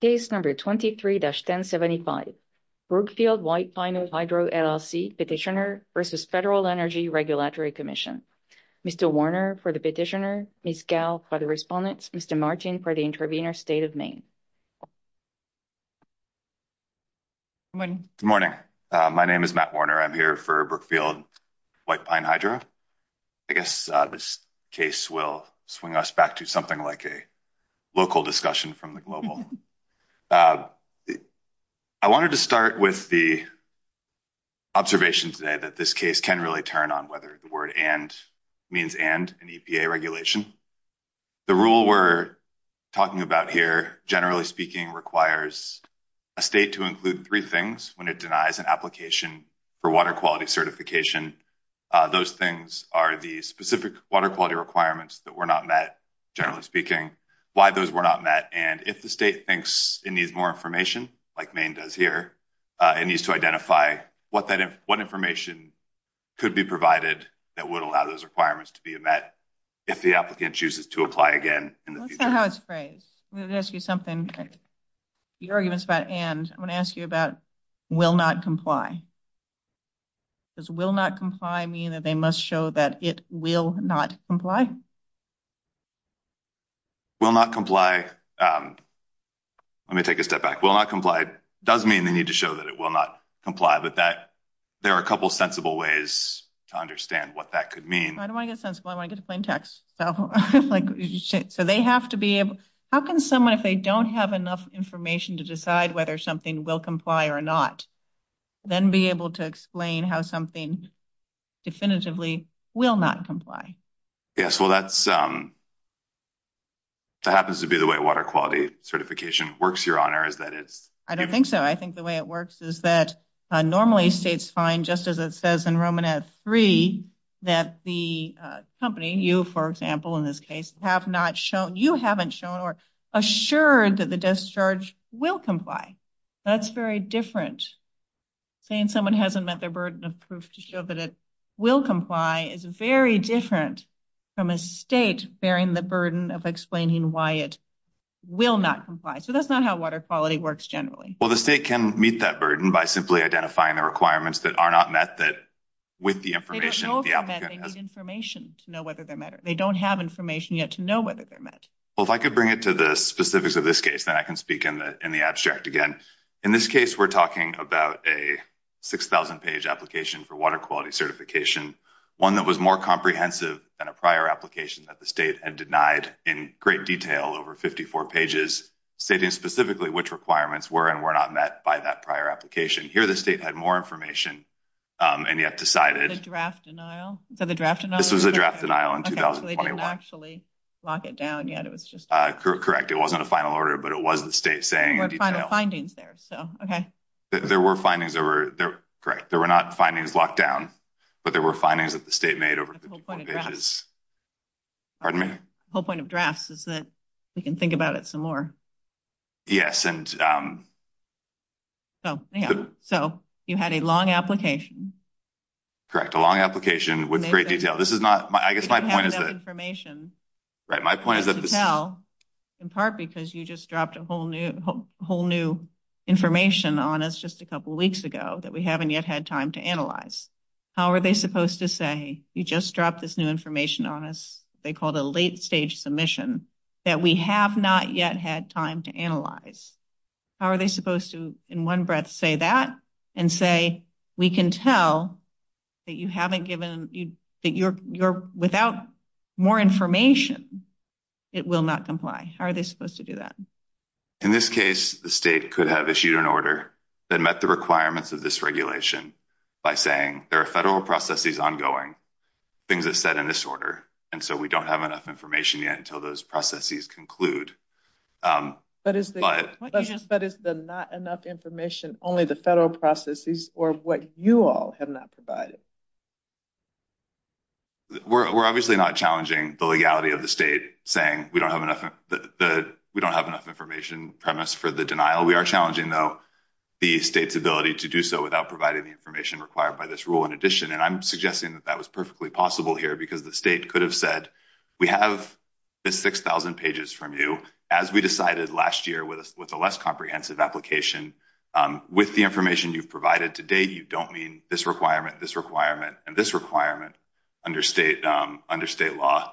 Case number 23-1075, Brookfield White Pine Hydro LLC Petitioner versus Federal Energy Regulatory Commission. Mr. Warner for the petitioner, Ms. Gow for the respondents, Mr. Martin for the intervener, State of Maine. Good morning. Good morning. My name is Matt Warner. I'm here for Brookfield White Pine Hydro. I guess this case will swing us back to something like a global. I wanted to start with the observation today that this case can really turn on whether the word and means and an EPA regulation. The rule we're talking about here, generally speaking, requires a state to include three things when it denies an application for water quality certification. Those things are the specific water quality requirements that those were not met, and if the state thinks it needs more information, like Maine does here, it needs to identify what information could be provided that would allow those requirements to be met if the applicant chooses to apply again in the future. Let's say how it's phrased. I'm going to ask you something. Your argument's about and. I'm going to ask you about will not comply. Does will not comply. Let me take a step back. Will not comply does mean they need to show that it will not comply, but that there are a couple sensible ways to understand what that could mean. I don't want to get sensible. I want to get a plain text. So they have to be able. How can someone, if they don't have enough information to decide whether something will comply or not, then be able to This would be the way water quality certification works, Your Honor, is that it's. I don't think so. I think the way it works is that normally states find just as it says in Roman at three that the company, you, for example, in this case, have not shown you haven't shown or assured that the discharge will comply. That's very different. Saying someone hasn't met their burden of proof to show that it will comply is very different from a state bearing the burden of explaining why it will not comply. So that's not how water quality works. Generally. Well, the state can meet that burden by simply identifying the requirements that are not met that with the information information to know whether they're matter. They don't have information yet to know whether they're met. Well, if I could bring it to the specifics of this case, then I can speak in the in the abstract again. In this case, we're talking about a 6000 page application for water quality certification. One that was more comprehensive than a prior application that the state had denied in great detail over 54 pages, stating specifically, which requirements were and were not met by that prior application here. The state had more information. And yet decided to draft denial. So, the draft and this was a draft denial and actually lock it down yet. It was just correct. It wasn't a final order, but it was the state saying, find the findings there. So, okay, there were findings over there. Correct. There were not findings locked down, but there were findings that the state made over the whole point of drafts is that we can think about it some more. Yes, and so you had a long application. Correct a long application with great detail. This is not my, I guess my point is that information. Right my point is that in part, because you just dropped a whole new whole new. Information on us just a couple of weeks ago that we haven't yet had time to analyze. How are they supposed to say you just dropped this new information on us? They called a late stage submission that we have not yet had time to analyze. How are they supposed to in 1 breath say that and say, we can tell. That you haven't given you that you're, you're without. More information, it will not comply. How are they supposed to do that? In this case, the state could have issued an order that met the requirements of this regulation. By saying, there are federal processes ongoing things that said in this order. And so we don't have enough information yet until those processes conclude. But is the, but is the not enough information only the federal processes or what you all have not provided. We're, we're obviously not challenging the legality of the state saying we don't have enough. We don't have enough information premise for the denial. We are challenging, though. The state's ability to do so without providing the information required by this rule. In addition, and I'm suggesting that that was perfectly possible here because the state could have said. We have the 6,000 pages from you as we decided last year with a, with a less comprehensive application. With the information you've provided today, you don't mean this requirement, this requirement and this requirement. Under state under state law,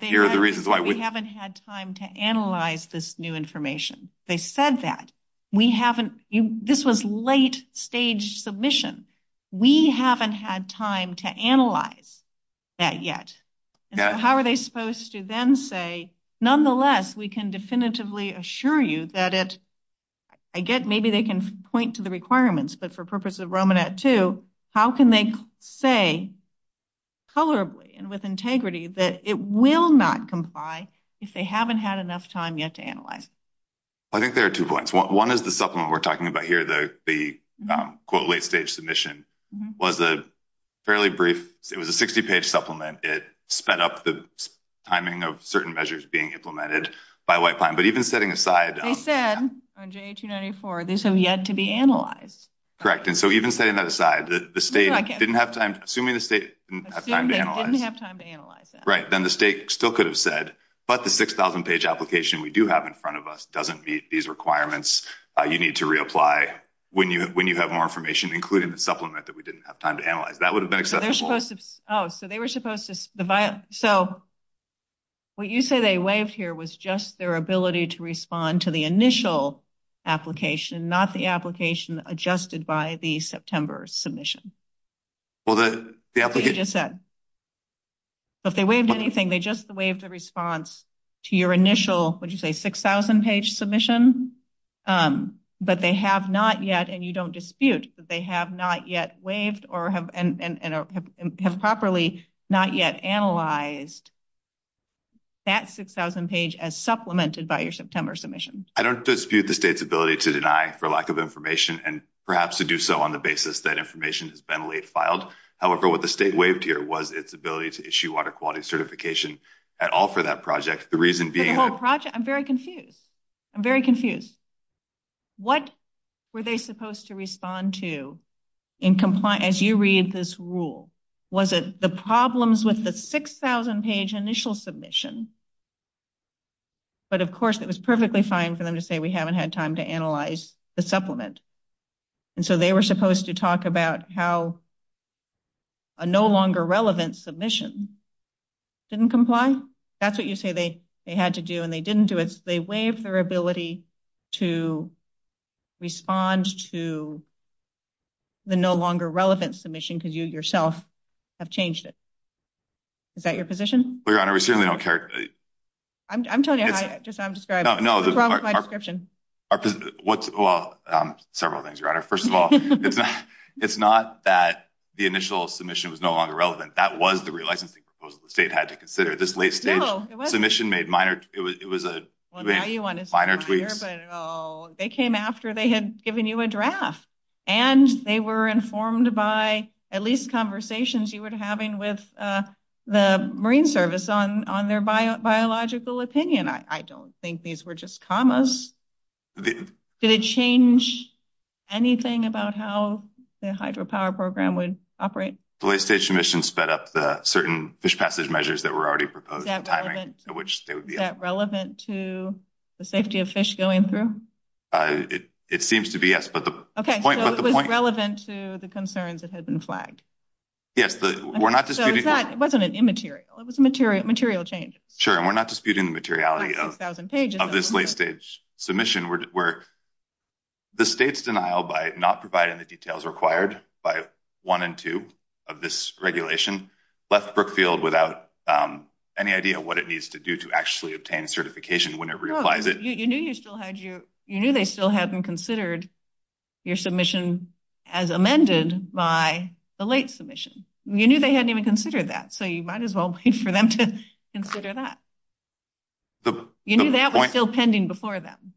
here are the reasons why we haven't had time to analyze this new information. They said that. We haven't this was late stage submission. That yet, how are they supposed to then say, nonetheless, we can definitively assure you that it. I get maybe they can point to the requirements, but for purpose of Roman at 2, how can they say. Colorably and with integrity that it will not comply. If they haven't had enough time yet to analyze, I think there are 2 points. 1 is the supplement we're talking about here. The, the quote, late stage submission. Was a fairly brief. It was a 60 page supplement. It sped up the timing of certain measures being implemented by white pine, but even setting aside. They said on J. 294. these have yet to be analyzed. Correct and so even setting that aside, the state didn't have time assuming the state didn't have time to analyze it. Right? Then the state still could have said, but the 6,000 page application we do have in front of us doesn't meet these requirements. You need to reapply when you, when you have more information, including the supplement that we didn't have time to analyze that would have been. Oh, so they were supposed to. So, what you say, they waived here was just their ability to respond to the initial application, not the application adjusted by the September submission. Well, the, the just said, if they waived anything, they just waived the response. To your initial, would you say 6,000 page submission, but they have not yet and you don't dispute that they have not yet waived or have and have properly not yet analyzed. That 6,000 page as supplemented by your September submission. I don't dispute the state's ability to deny for lack of information and perhaps to do so on the basis that information has been late filed. However, what the state waived here was its ability to issue water quality certification at all for that project. The reason being the whole project. I'm very confused. I'm very confused what. Were they supposed to respond to in compliance as you read this rule? Was it the problems with the 6,000 page initial submission? But, of course, it was perfectly fine for them to say we haven't had time to analyze the supplement. And so they were supposed to talk about how. A no longer relevant submission didn't comply. That's what you say. They had to do and they didn't do it. They waive their ability to. Respond to the no longer relevant submission because you yourself. Have changed it. Is that your position? We certainly don't care. I'm telling you, I just I'm describing no description. What's well, several things right? First of all, it's not it's not that the initial submission was no longer relevant. That was the real licensing proposal. The state had to consider this late stage submission made minor. It was a minor tweaks. They came after they had given you a draft. And they were informed by at least conversations you were having with. The marine service on on their biological opinion. I don't think these were just commas. Did it change anything about how the hydropower program would operate? The late stage mission sped up the certain fish passage measures that were already proposed timing, which would be relevant to the safety of fish going through. It, it seems to be yes, but the point was relevant to the concerns that had been flagged. Yes, we're not disputing that it wasn't an immaterial. It was a material material change. Sure. And we're not disputing the materiality of 1000 pages of this late stage submission where. The state's denial by not providing the details required by 1 and 2 of this regulation left Brookfield without any idea what it needs to do to actually obtain certification. Whenever you apply it, you knew you still had your, you knew they still hadn't considered. Your submission as amended by the late submission, you knew they hadn't even considered that. So you might as well wait for them to consider that. You knew that was still pending before them.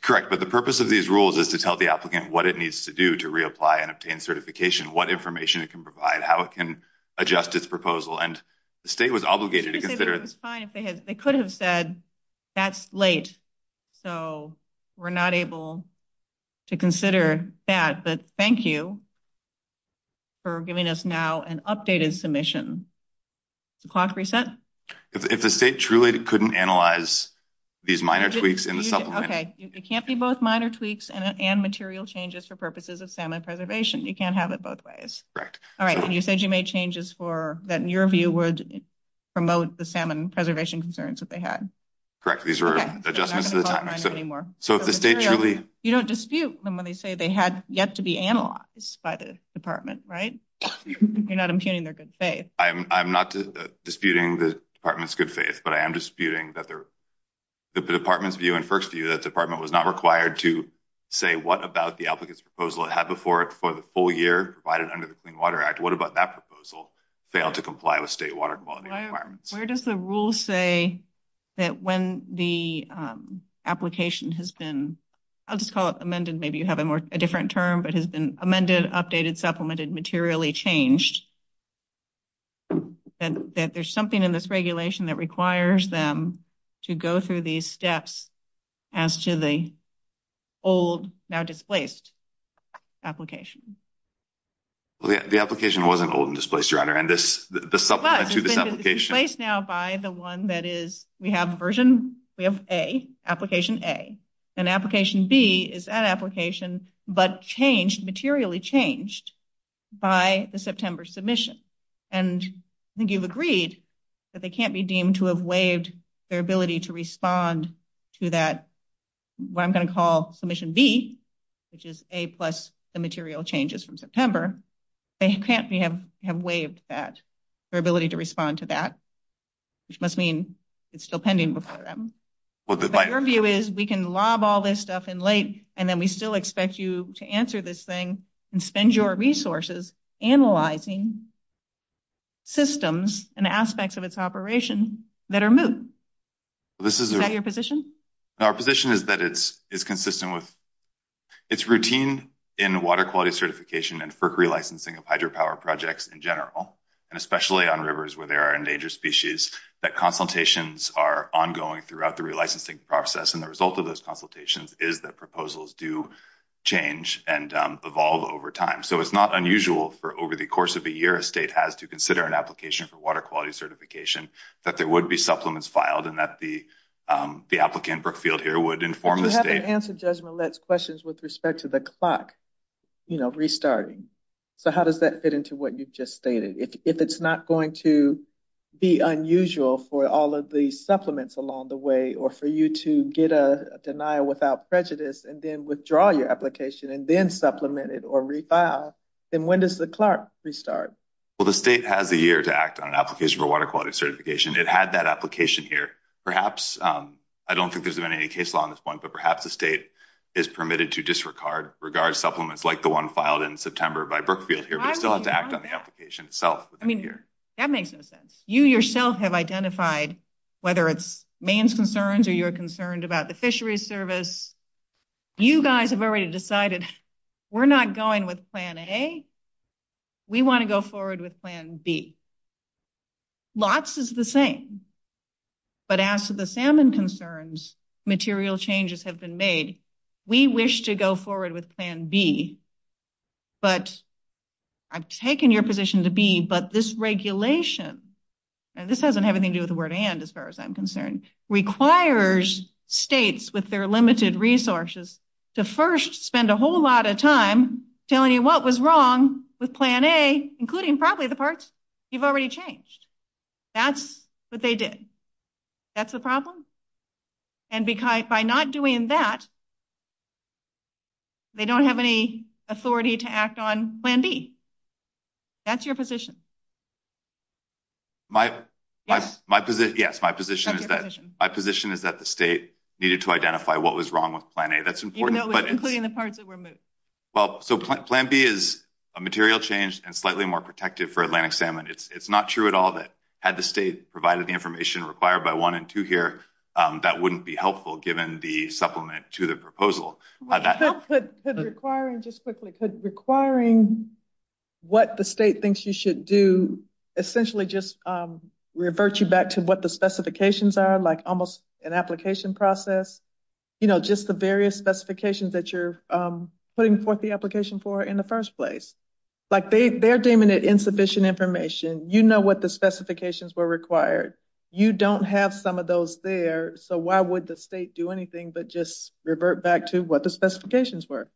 Correct. But the purpose of these rules is to tell the applicant what it needs to do to reapply and obtain certification. What information it can provide, how it can adjust its proposal. And the state was obligated to consider it was fine. If they had, they could have said. That's late, so we're not able. To consider that, but thank you. For giving us now an updated submission. The clock reset if the state truly couldn't analyze. These minor tweaks in the supplement. Okay, it can't be both minor tweaks and material changes for purposes of salmon preservation. You can't have it both ways. Correct. All right. And you said you made changes for that in your view would. Promote the salmon preservation concerns that they had. Correct these are adjustments to the time anymore. So, if the state truly, you don't dispute them when they say they had yet to be analyzed by the department. Right? You're not impugning their good faith. I'm not disputing the department's good faith, but I am disputing that there. The department's view and 1st view that department was not required to say what about the applicants proposal had before it for the full year provided under the clean water act. What about that proposal? Failed to comply with state water quality requirements. Where does the rule say. That when the application has been. I'll just call it amended. Maybe you have a more a different term, but has been amended, updated, supplemented, materially changed. And that there's something in this regulation that requires them. To go through these steps as to the. Old now displaced application. The application wasn't old and displaced your honor and this, the supplement to this place now by the 1 that is, we have version. We have a application a. An application B is an application, but changed materially changed. By the September submission, and I think you've agreed. That they can't be deemed to have waived their ability to respond. To that, what I'm going to call submission B. Which is a plus the material changes from September. They can't be have have waived that their ability to respond to that. Which must mean it's still pending before them. What your view is, we can lob all this stuff in late and then we still expect you to answer this thing and spend your resources. Analyzing systems and aspects of its operation. That are moved this is your position. Our position is that it's, it's consistent with it's routine. In water quality certification and for licensing of hydropower projects in general. And especially on rivers where there are endangered species that consultations are ongoing throughout the licensing process. And the result of those consultations is that proposals do. Change and evolve over time, so it's not unusual for over the course of a year, a state has to consider an application for water quality certification that there would be supplements filed and that the. Um, the applicant Brookfield here would inform the state answer judgment. Let's questions with respect to the clock. You know, restarting so how does that fit into what you've just stated if it's not going to. Be unusual for all of the supplements along the way, or for you to get a denial without prejudice, and then withdraw your application and then supplemented or refile. Then, when does the Clark restart? Well, the state has a year to act on an application for water quality certification. It had that application here. Perhaps. I don't think there's been any case law on this 1, but perhaps the state is permitted to disregard regard supplements, like the 1 filed in September by Brookfield here, but still have to act on the application itself. I mean, that makes no sense. You yourself have identified whether it's main concerns or you're concerned about the fishery service. You guys have already decided we're not going with plan a. We want to go forward with plan B. Lots is the same, but as to the salmon concerns. Material changes have been made. We wish to go forward with plan B. But I've taken your position to be, but this regulation. And this doesn't have anything to do with the word and as far as I'm concerned, requires states with their limited resources. To 1st, spend a whole lot of time telling you what was wrong with plan a, including probably the parts. You've already changed that's what they did. That's the problem and by not doing that. They don't have any authority to act on plan B. That's your position. Yes, my position is that my position is that the state needed to identify what was wrong with planning. That's important, including the parts that were moved. Well, so plan B is a material change and slightly more protective for Atlantic salmon. It's not true at all that had the state provided the information required by 1 and 2 here. That wouldn't be helpful given the supplement to the proposal that could requiring just quickly could requiring. What the state thinks you should do essentially just revert you back to what the specifications are, like, almost an application process. You know, just the various specifications that you're putting forth the application for in the 1st place. Like, they, they're deeming it insufficient information. You know what the specifications were required. You don't have some of those there, so why would the state do anything, but just revert back to what the specifications were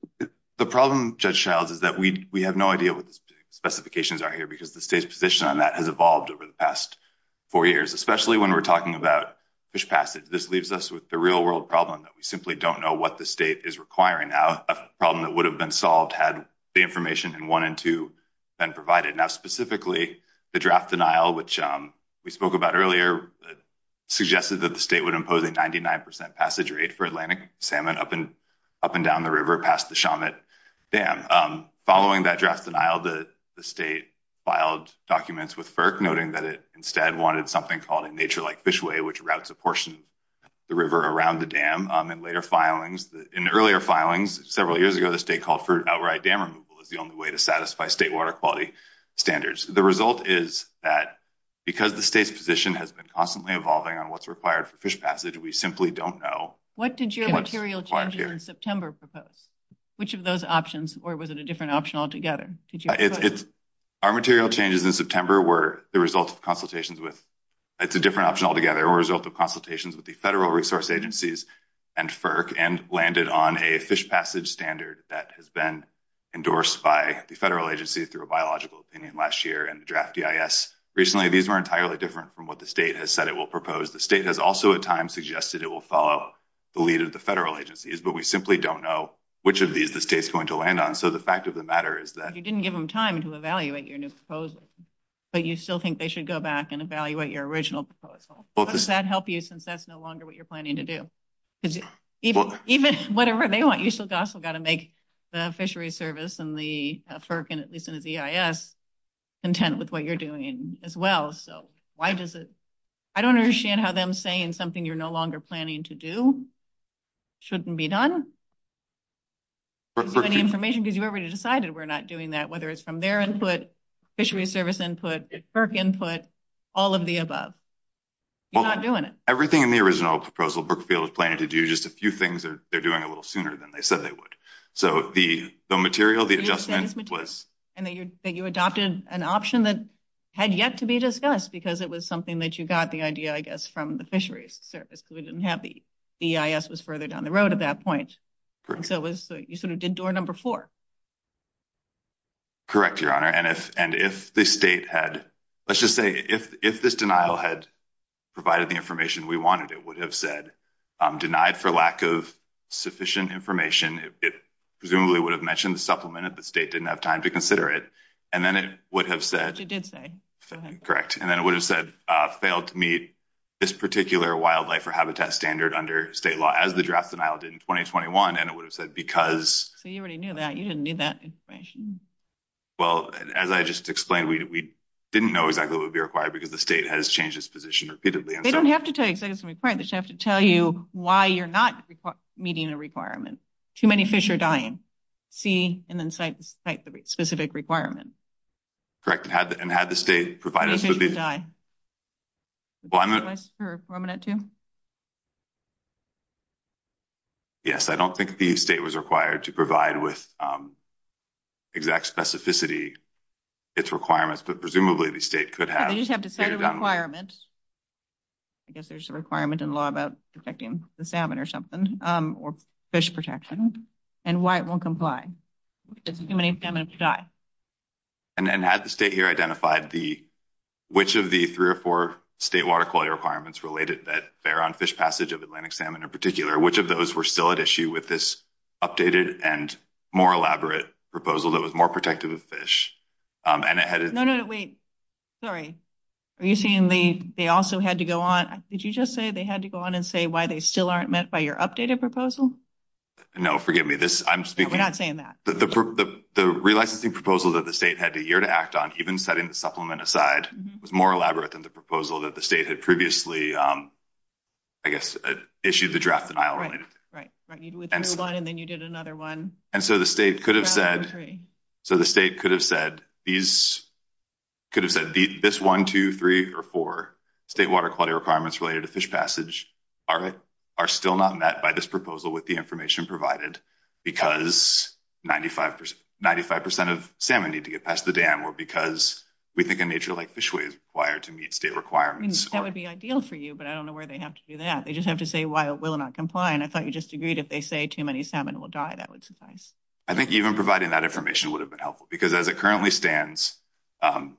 the problem judge childs is that we, we have no idea what the specifications are here because the state's position on that has evolved over the past. For years, especially when we're talking about this passage, this leaves us with the real world problem that we simply don't know what the state is requiring now a problem that would have been solved had the information and 1 and 2. And provided now, specifically the draft denial, which we spoke about earlier. Suggested that the state would impose a 99% passage rate for Atlantic salmon up and up and down the river past the. Damn, following that draft denial, the state. Filed documents with, noting that it instead wanted something called a nature like fishway, which routes a portion. The river around the dam and later filings in earlier filings, several years ago, the state called for outright dam removal is the only way to satisfy state water quality standards. The result is that. Because the state's position has been constantly evolving on what's required for fish passage. We simply don't know what did you want to hear in September? Propose. Which of those options, or was it a different option altogether? It's. Our material changes in September were the result of consultations with. It's a different option altogether or result of consultations with the federal resource agencies. And and landed on a fish passage standard that has been. Endorsed by the federal agency through a biological opinion last year and the draft. Recently, these were entirely different from what the state has said it will propose. The state has also at times suggested it will follow. The lead of the federal agencies, but we simply don't know which of these the state's going to land on. So, the fact of the matter is that you didn't give them time to evaluate your new proposal. But you still think they should go back and evaluate your original proposal. Does that help you since that's no longer what you're planning to do? Because even whatever they want, you still got to make. The fishery service and the, and at least in the. Content with what you're doing as well. So why does it. I don't understand how them saying something you're no longer planning to do. Shouldn't be done information because you already decided we're not doing that. Whether it's from their input. Fishery service input, Burke input all of the above. You're not doing it everything in the original proposal Brookfield is planning to do just a few things that they're doing a little sooner than they said they would. So, the, the material, the adjustment was and that you adopted an option that. Had yet to be discussed because it was something that you got the idea, I guess, from the fisheries service. We didn't have the. The was further down the road at that point. And so it was, you sort of did door number 4. Correct your honor and if, and if the state had, let's just say if, if this denial had. Provided the information we wanted, it would have said denied for lack of sufficient information. It. Presumably would have mentioned the supplement that the state didn't have time to consider it and then it would have said, it did say correct. And then it would have said failed to meet. This particular wildlife or habitat standard under state law as the draft denial did in 2021 and it would have said, because so you already knew that you didn't need that information. Well, as I just explained, we didn't know exactly what would be required because the state has changed its position repeatedly. And so we have to take some requirements. You have to tell you why you're not meeting a requirement. Too many fish are dying C, and then site the specific requirement. Correct and had the state provide us with the die. Well, I'm a nice for a minute to. Yes, I don't think the state was required to provide with. Exact specificity, its requirements, but presumably the state could have requirements. I guess there's a requirement in law about affecting the salmon or something or fish protection and why it won't comply. And then had the state here identified the. Which of the 3 or 4 state water quality requirements related that fair on fish passage of Atlantic salmon in particular, which of those were still at issue with this. Updated and more elaborate proposal that was more protective of fish. And it had no, no, no, wait, sorry. Are you seeing the, they also had to go on? Did you just say they had to go on and say why they still aren't met by your updated proposal? No, forgive me this. I'm speaking. We're not saying that the, the, the, the real licensing proposal that the state had a year to act on, even setting the supplement aside was more elaborate than the proposal that the state had previously. I guess, issue the draft and I'll right. Right. And then you did another 1. and so the state could have said. So, the state could have said these could have said this 1, 2, 3, or 4 state water quality requirements related to fish passage. All right, are still not met by this proposal with the information provided. Because 95, 95% of salmon need to get past the dam or because we think a major, like, fishway is required to meet state requirements. That would be ideal for you, but I don't know where they have to do that. They just have to say why it will not comply. And I thought you just agreed if they say too many salmon will die. That would suffice. I think even providing that information would have been helpful because as it currently stands. Um,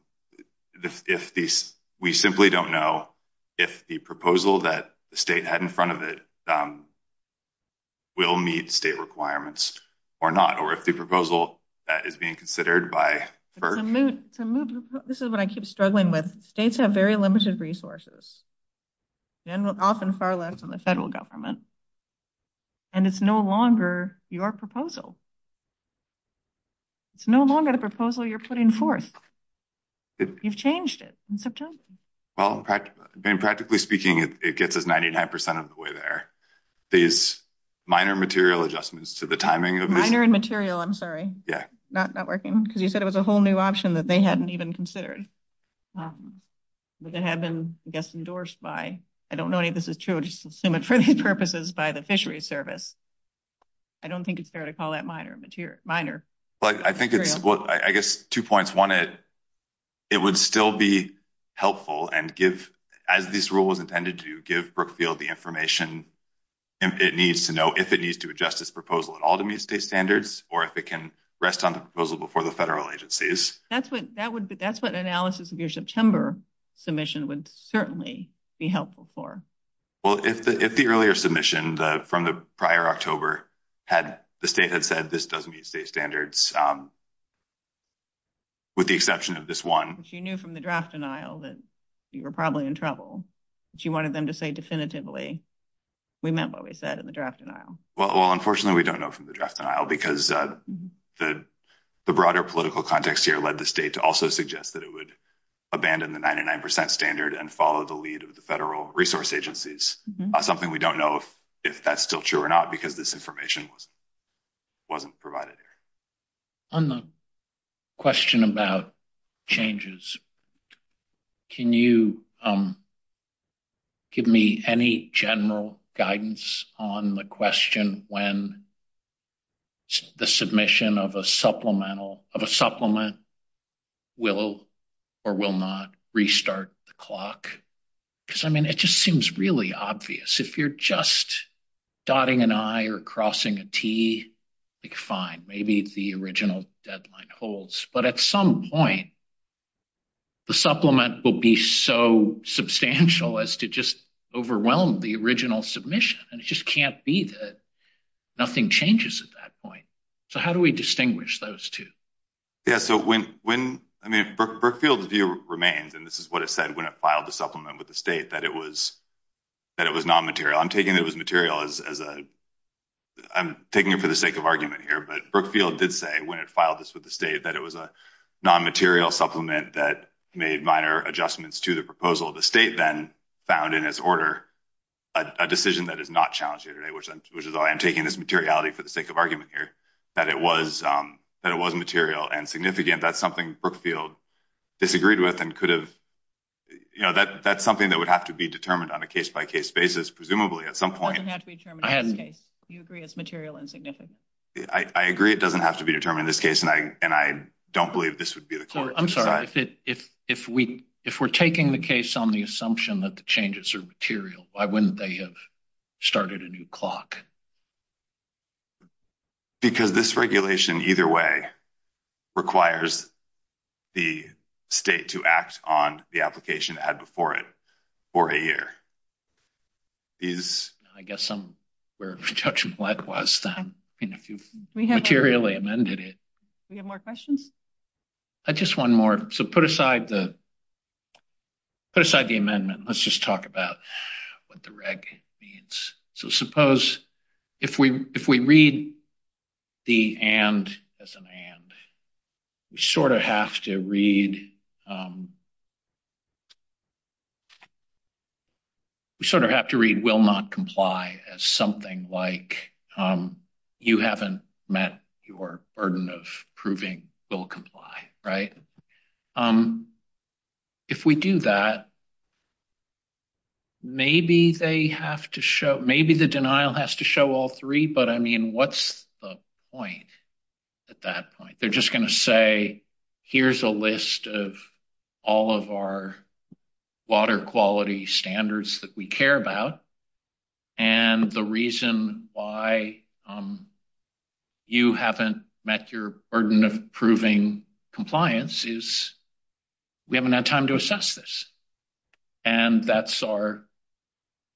if we simply don't know. If the proposal that the state had in front of it. Will meet state requirements or not, or if the proposal that is being considered by. To move this is what I keep struggling with states have very limited resources. And often far left on the federal government. And it's no longer your proposal. It's no longer the proposal you're putting forth. You've changed it in September. Well, practically speaking, it gets us 99% of the way there. These minor material adjustments to the timing of minor and material. I'm sorry. Yeah, not not working because you said it was a whole new option that they hadn't even considered. But it had been endorsed by I don't know any of this is true. Just assume it for these purposes by the fishery service. I don't think it's fair to call that minor material minor. But I think it's what I guess 2 points 1 it. It would still be helpful and give as this rule was intended to give Brookfield the information. It needs to know if it needs to adjust this proposal at all to meet state standards, or if it can rest on the proposal before the federal agencies. That's what that would be. That's what analysis of your September. Submission would certainly be helpful for. Well, if the, if the earlier submission from the prior October. Had the state had said this doesn't meet state standards. With the exception of this 1, which you knew from the draft denial that. You were probably in trouble, but you wanted them to say definitively. We met what we said in the draft denial. Well, unfortunately, we don't know from the draft denial because the. The broader political context here led the state to also suggest that it would. Abandon the 99% standard and follow the lead of the federal resource agencies, something we don't know if that's still true or not, because this information was. Wasn't provided on the. Question about changes. Can you give me any general guidance on the question when. The submission of a supplemental of a supplement. Will or will not restart the clock. Because, I mean, it just seems really obvious if you're just. Dotting an eye or crossing a T. Like, fine, maybe the original deadline holds, but at some point. The supplement will be so substantial as to just. Overwhelm the original submission and it just can't be that. Nothing changes at that point. So how do we distinguish those 2. Yeah, so when when, I mean, Brookfield view remains, and this is what it said when it filed the supplement with the state that it was. That it was not material I'm taking it was material as a. I'm taking it for the sake of argument here, but Brookfield did say when it filed this with the state that it was a non material supplement that made minor adjustments to the proposal. The state then. Found in his order, a decision that is not challenging today, which, which is all I'm taking this materiality for the sake of argument here that it was that it was material and significant. That's something Brookfield. Disagreed with, and could have, you know, that that's something that would have to be determined on a case by case basis. Presumably at some point, it doesn't have to be determined. You agree it's material and significant. I, I agree it doesn't have to be determined this case and I, and I don't believe this would be the court. I'm sorry. If it, if, if we, if we're taking the case on the assumption that the changes are material, why wouldn't they have started a new clock? Because this regulation either way requires. The state to act on the application that had before it. For a year is, I guess I'm. We're judging likewise, then if you've materially amended it. We have more questions I just 1 more. So put aside the. Put aside the amendment, let's just talk about what the reg means. So suppose. If we, if we read the and as an hand. We sort of have to read. We sort of have to read will not comply as something like, you haven't met your burden of proving will comply. Right? If we do that, maybe they have to show, maybe the denial has to show all 3, but I mean, what's the point at that point? They're just going to say, here's a list of. All of our water quality standards that we care about. And the reason why. You haven't met your burden of proving compliance is. We haven't had time to assess this and that's our.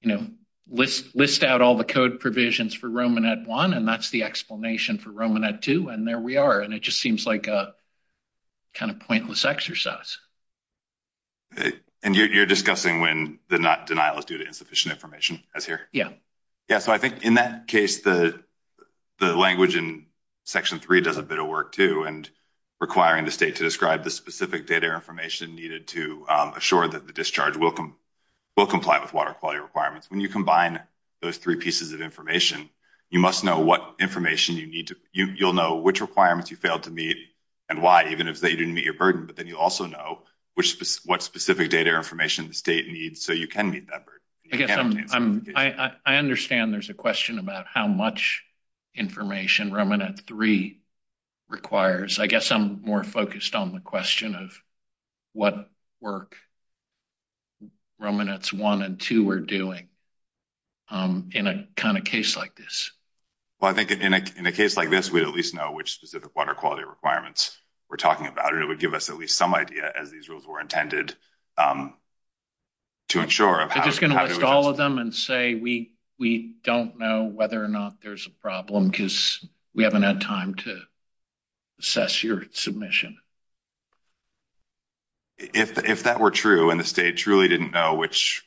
You know, list list out all the code provisions for Roman at 1, and that's the explanation for Roman at 2 and there we are. And it just seems like a. Kind of pointless exercise, and you're discussing when the not denial is due to insufficient information as here. Yeah. Yeah, so I think in that case, the, the language in. Section 3 does a bit of work too, and requiring the state to describe the specific data information needed to assure that the discharge will come. Will comply with water quality requirements when you combine those 3 pieces of information, you must know what information you need to, you'll know which requirements you failed to meet. And why, even if they didn't meet your burden, but then you also know which what specific data information the state needs. So you can meet that. I guess I'm, I understand there's a question about how much. Information Roman at 3 requires, I guess I'm more focused on the question of. What work Roman at 1 and 2, we're doing. In a kind of case like this. Well, I think in a, in a case like this, we at least know which specific water quality requirements. We're talking about it would give us at least some idea as these rules were intended. To ensure of just going to list all of them and say, we, we don't know whether or not there's a problem because we haven't had time to. Assess your submission, if that were true, and the state truly didn't know which.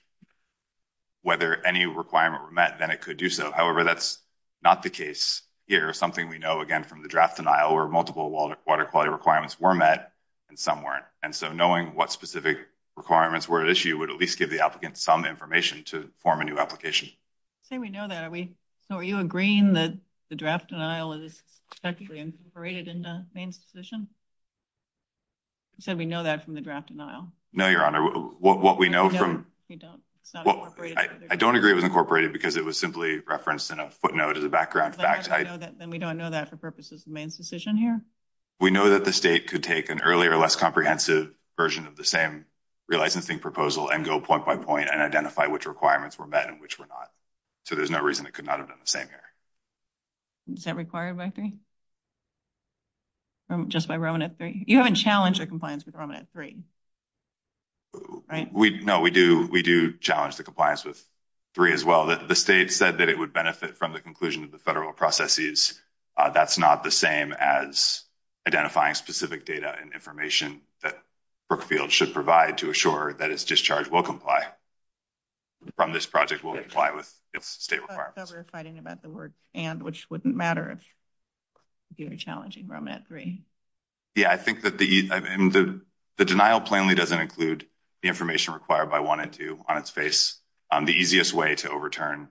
Whether any requirement were met, then it could do so. However, that's. Not the case here is something we know again from the draft denial or multiple water quality requirements were met. And some weren't and so knowing what specific requirements were at issue would at least give the applicant some information to form a new application. Say, we know that we, so are you agreeing that the draft denial is actually incorporated in the main session? So, we know that from the draft denial. No, your honor what we know from, you know, I don't agree with incorporated because it was simply referenced in a footnote as a background fact. I know that. Then we don't know that for purposes of main decision here. We know that the state could take an earlier, less comprehensive version of the same. Realizing think proposal and go point by point and identify which requirements were met and which were not. So, there's no reason it could not have done the same here. Is that required by 3. Just by Roman at 3, you haven't challenged the compliance with Roman at 3. No, we do we do challenge the compliance with 3 as well that the state said that it would benefit from the conclusion of the federal processes. That's not the same as identifying specific data and information that Brookfield should provide to assure that is discharged will comply. From this project will comply with state requirements fighting about the work and which wouldn't matter if you're challenging Roman at 3. Yeah, I think that the, the denial plainly doesn't include the information required by 1 and 2 on its face on the easiest way to overturn.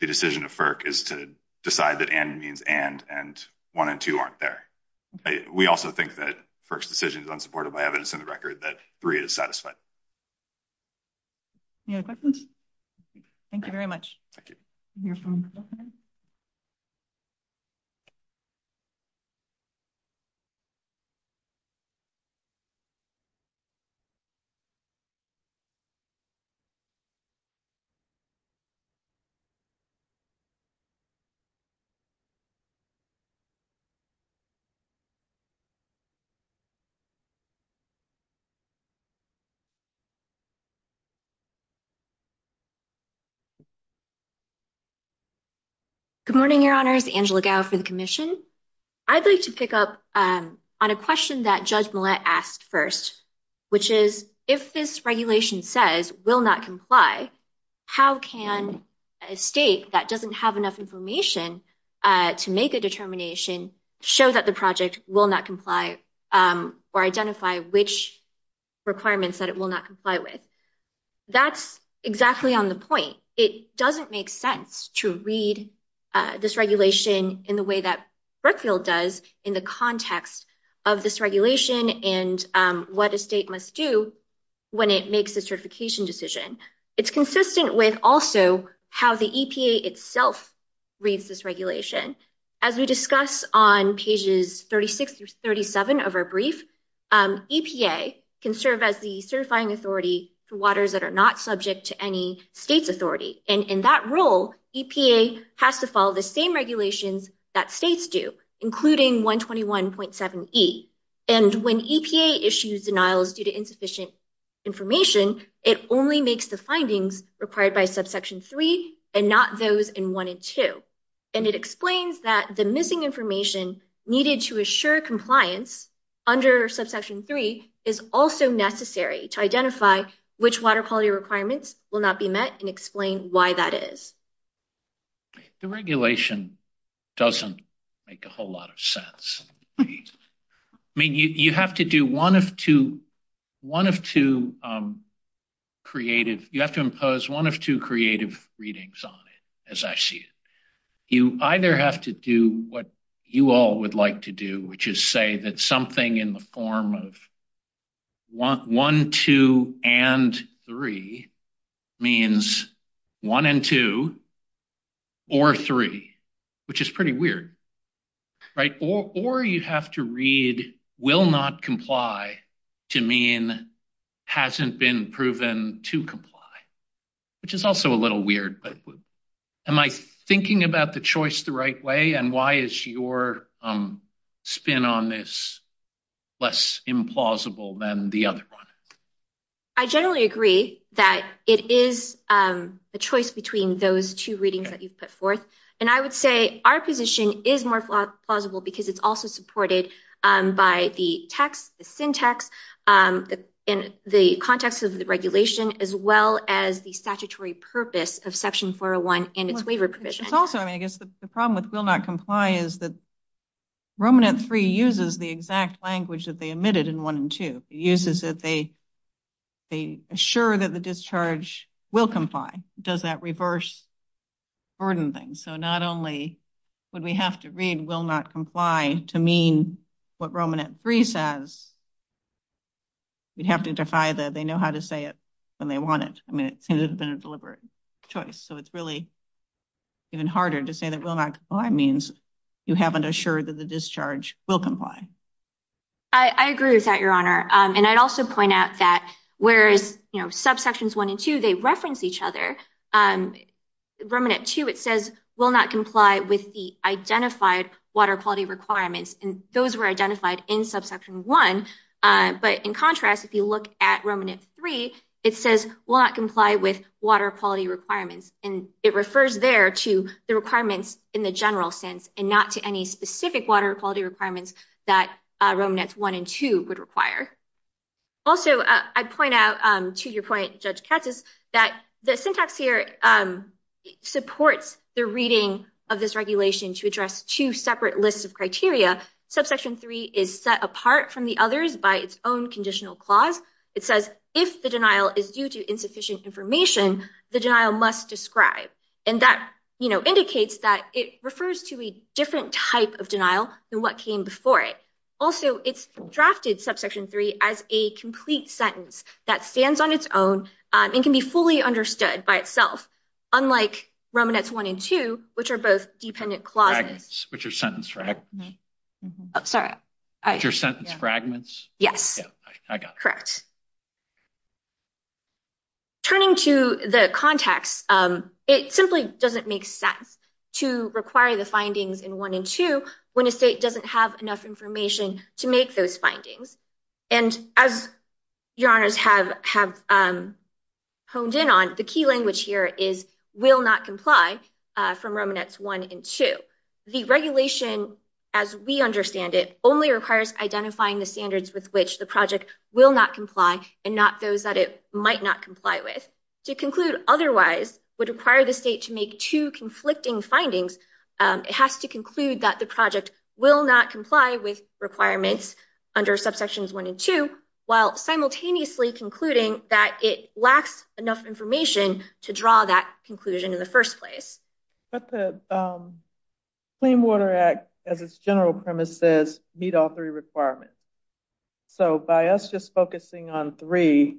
The decision of is to decide that and means and and 1 and 2 aren't there. We also think that 1st decision is unsupported by evidence in the record that 3 is satisfied. Yeah, thank you very much. Thank you. Good morning, your honors Angela for the commission. I'd like to pick up on a question that judge asked 1st. Which is, if this regulation says, will not comply. How can a state that doesn't have enough information. To make a determination show that the project will not comply. Or identify which requirements that it will not comply with. That's exactly on the point. It doesn't make sense to read this regulation in the way that. Brookfield does in the context of this regulation and what a state must do. When it makes a certification decision, it's consistent with also how the itself. Reads this regulation, as we discuss on pages, 36 to 37 of our brief. EPA can serve as the certifying authority for waters that are not subject to any states authority and in that role, EPA has to follow the same regulations that states do, including 121.7. And when issues denials due to insufficient. Information, it only makes the findings required by subsection 3 and not those in 1 and 2. And it explains that the missing information needed to assure compliance. Under subsection 3 is also necessary to identify. Which water quality requirements will not be met and explain why that is. The regulation doesn't. Make a whole lot of sense. I mean, you have to do 1 of 2. 1 of 2 creative, you have to impose 1 of 2 creative readings on it as I see it. You either have to do what you all would like to do, which is say that something in the form of. Want 1, 2 and 3. Means 1 and 2. Or 3, which is pretty weird. Right or or you have to read will not comply. To mean hasn't been proven to comply. Which is also a little weird, but am I thinking about the choice the right way? And why is your. Spin on this less implausible than the other 1. I generally agree that it is a choice between those 2 readings that you've put forth and I would say our position is more plausible because it's also supported by the text syntax. In the context of the regulation as well as the statutory purpose of section 401 and its waiver provision. It's also, I mean, I guess the problem with will not comply is that. Roman at 3 uses the exact language that they admitted in 1 and 2 uses that they. They assure that the discharge will comply. Does that reverse? Burden things so not only would we have to read will not comply to mean. What Roman at 3 says, we'd have to defy that. They know how to say it. When they want it, I mean, it seems to have been a deliberate choice, so it's really. Even harder to say that will not means. You haven't assured that the discharge will comply. I agree with that your honor and I'd also point out that whereas subsections 1 and 2, they reference each other. Roman at 2, it says will not comply with the identified water quality requirements and those were identified in subsection 1. But in contrast, if you look at Roman at 3, it says, will not comply with water quality requirements and it refers there to the requirements in the general sense and not to any specific water quality requirements that 1 and 2 would require. Also, I point out to your point, judge catches that the syntax here supports the reading of this regulation to address 2 separate lists of criteria. Subsection 3 is set apart from the others by its own conditional clause. It says, if the denial is due to insufficient information, the denial must describe. And that indicates that it refers to a different type of denial than what came before it. Also, it's drafted subsection 3 as a complete sentence that stands on its own and can be fully understood by itself. Unlike Roman at 1 and 2, which are both dependent clauses, which are sentence fragments. Sorry, your sentence fragments. Yes, I got it. Correct. Turning to the context, it simply doesn't make sense to require the findings in 1 and 2 when a state doesn't have enough information to make those findings. And as your honors have honed in on, the key language here is will not comply from Roman at 1 and 2. The regulation, as we understand it, only requires identifying the standards with which the project will not comply and not those that it might not comply with. To conclude otherwise would require the state to make 2 conflicting findings. It has to conclude that the project will not comply with requirements under subsections 1 and 2, while simultaneously concluding that it lacks enough information to draw that conclusion in the first place. But the Clean Water Act, as its general premise says, meet all 3 requirements. So, by us just focusing on 3,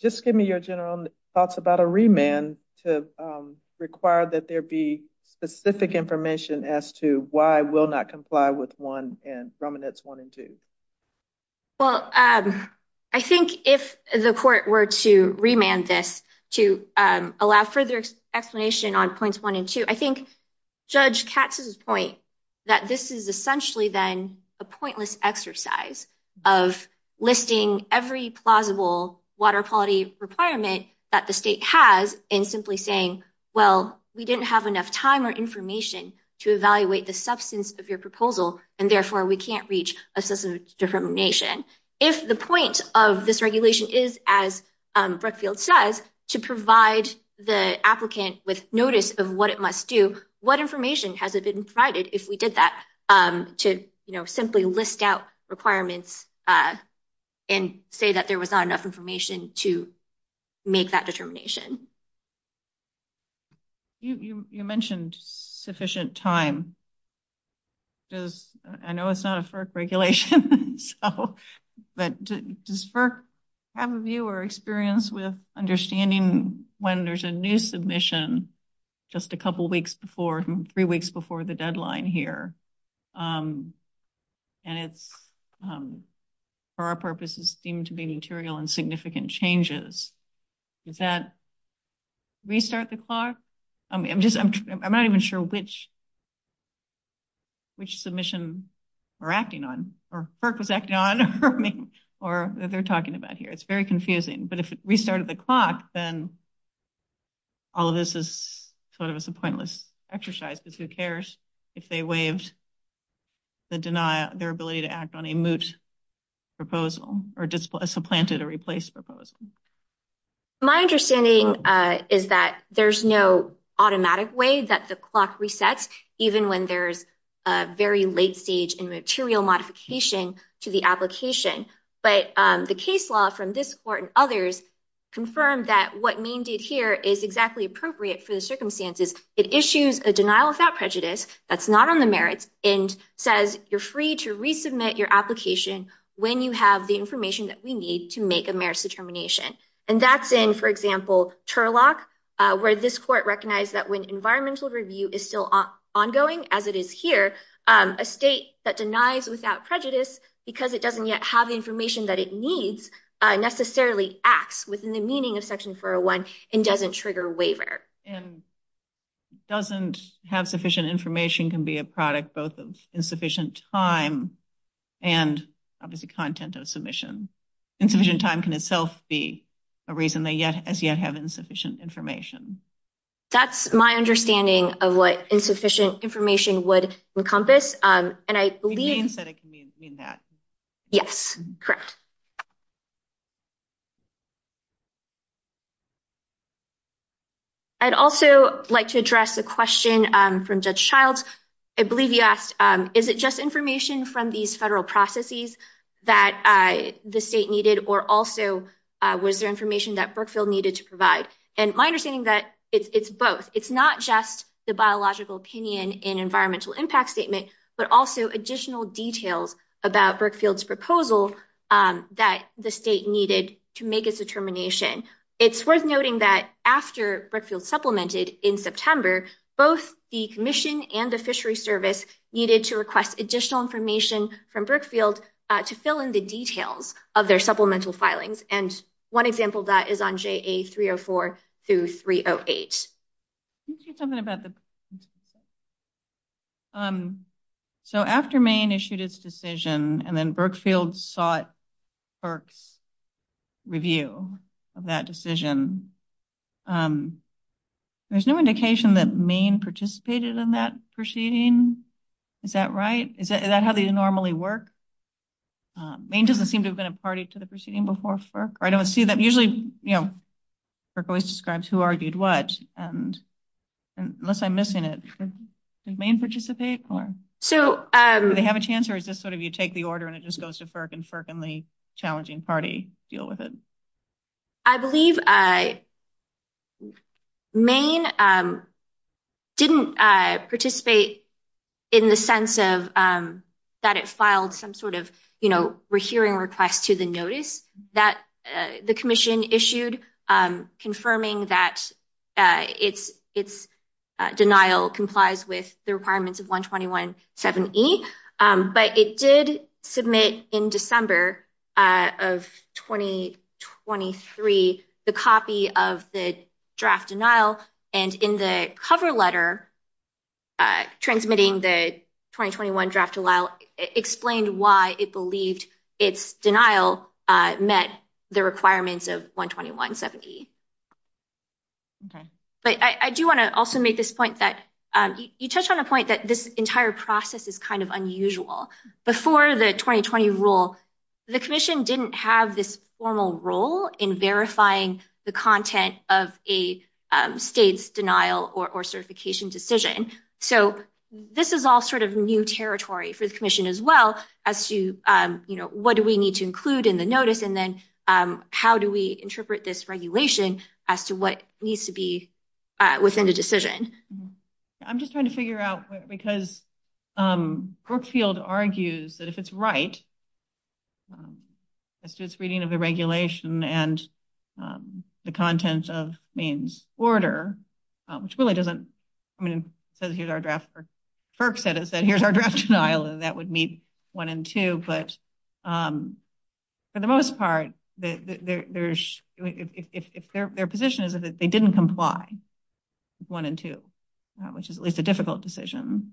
just give me your general thoughts about a remand to require that there be specific information as to why will not comply with 1 and Roman at 1 and 2. Well, I think if the court were to remand this to allow further explanation on points 1 and 2, I think Judge Katz's point that this is essentially then a pointless exercise of listing every plausible water quality requirement that the state has in simply saying, well, we didn't have enough time or information to evaluate the substance of your proposal. And therefore, we can't reach a system of determination. If the point of this regulation is, as Brookfield says, to provide the applicant with notice of what it must do, what information has it been provided if we did that to simply list out requirements and say that there was not enough information to make that determination? You mentioned sufficient time. I know it's not a FERC regulation, but does FERC have a view or experience with understanding when there's a new submission just a couple weeks before, 3 weeks before the deadline here, and it's, for our purposes, seem to be material and significant changes. Does that restart the clock? I'm just, I'm not even sure which, which submission we're acting on, or FERC was acting on, I mean, or that they're talking about here. It's very confusing. But if it restarted the clock, then all of this is sort of a pointless exercise, because who cares if they waived the denial, their ability to act on a moot proposal or supplanted or replaced proposal. My understanding is that there's no automatic way that the clock resets, even when there's a very late stage in material modification to the application. But the case law from this court and others confirmed that what Maine did here is exactly appropriate for the circumstances. It issues a denial without prejudice, that's not on the merits, and says you're free to resubmit your application when you have the information that we need to make a merits determination. And that's in, for example, Turlock, where this court recognized that when environmental review is still ongoing, as it is here, a state that denies without prejudice, because it doesn't yet have the information that it needs, necessarily acts within the meaning of Section 401 and doesn't trigger waiver. Doesn't have sufficient information can be a product both of insufficient time and obviously content of submission. Insufficient time can itself be a reason they yet as yet have insufficient information. That's my understanding of what insufficient information would encompass. And I believe... Maine said it can mean that. Yes, correct. I'd also like to address a question from Judge Childs. I believe you asked, is it just information from these federal processes that the state needed or also was there information that Brookfield needed to provide? And my understanding that it's both. It's not just the biological opinion in environmental impact statement, but also additional details about Brookfield's proposal. That the state needed to make its determination. It's worth noting that after Brookfield supplemented in September, both the commission and the fishery service needed to request additional information from Brookfield to fill in the details of their supplemental filings. And one example that is on JA 304 through 308. Something about the... So after Maine issued its decision and then Brookfield sought FERC's review of that decision. There's no indication that Maine participated in that proceeding. Is that right? Is that how they normally work? Maine doesn't seem to have been a party to the proceeding before FERC. I don't see that usually, you know. FERC always describes who argued what and unless I'm missing it, did Maine participate? So... Do they have a chance or is this sort of you take the order and it just goes to FERC and FERC and the challenging party deal with it? I believe Maine didn't participate in the sense of that it filed some sort of, you know, we're hearing requests to the notice that the commission issued confirming that it's denial complies with the requirements of 121 7E. But it did submit in December of 2023, the copy of the draft denial and in the cover letter, transmitting the 2021 draft denial explained why it believed its denial met the requirements of 121 7E. But I do want to also make this point that you touched on a point that this entire process is kind of unusual. Before the 2020 rule, the commission didn't have this formal role in verifying the content of a state's denial or certification decision. So this is all sort of new territory for the commission as well as to, you know, what do we need to include in the notice? And then how do we interpret this regulation as to what needs to be within the decision? I'm just trying to figure out, because Brookfield argues that if it's right, as to its reading of the regulation and the content of Maine's order, which really doesn't, I mean, it says here's our draft. FERC said it said here's our draft denial and that would meet one and two. But for the most part, if their position is that they didn't comply with one and two, which is at least a difficult decision,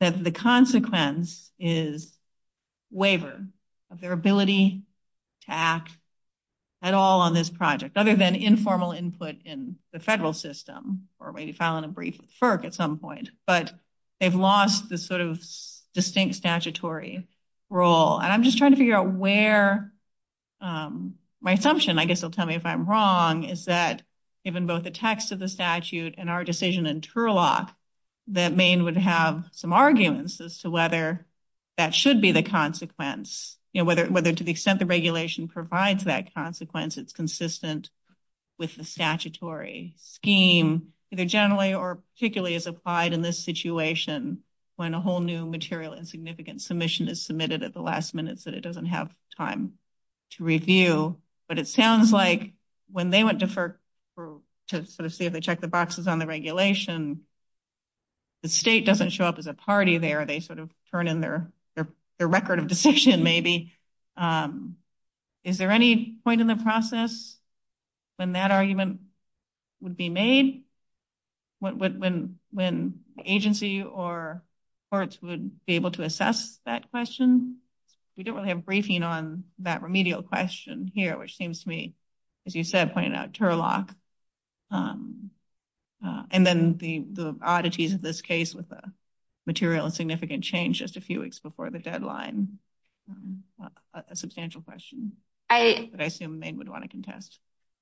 that the consequence is waiver of their ability to act at all on this project, other than informal input in the federal system, or maybe filing a brief with FERC at some point. But they've lost this sort of distinct statutory role. And I'm just trying to figure out where my assumption, I guess they'll tell me if I'm wrong, is that given both the text of the statute and our decision in Turlock, that Maine would have some arguments as to whether that should be the consequence. Whether to the extent the regulation provides that consequence, it's consistent with the statutory scheme, either generally or particularly as applied in this situation, when a whole new material and significant submission is submitted at the last minute so that it doesn't have time to review. But it sounds like when they went to FERC to sort of see if they check the boxes on the regulation, the state doesn't show up as a party there. They sort of turn in their record of decision maybe. Is there any point in the process when that argument would be made? When agency or courts would be able to assess that question? We don't really have a briefing on that remedial question here, which seems to me, as you said, pointed out, Turlock. And then the oddities of this case with the material and significant change just a few weeks before the deadline. A substantial question that I assume Maine would want to contest.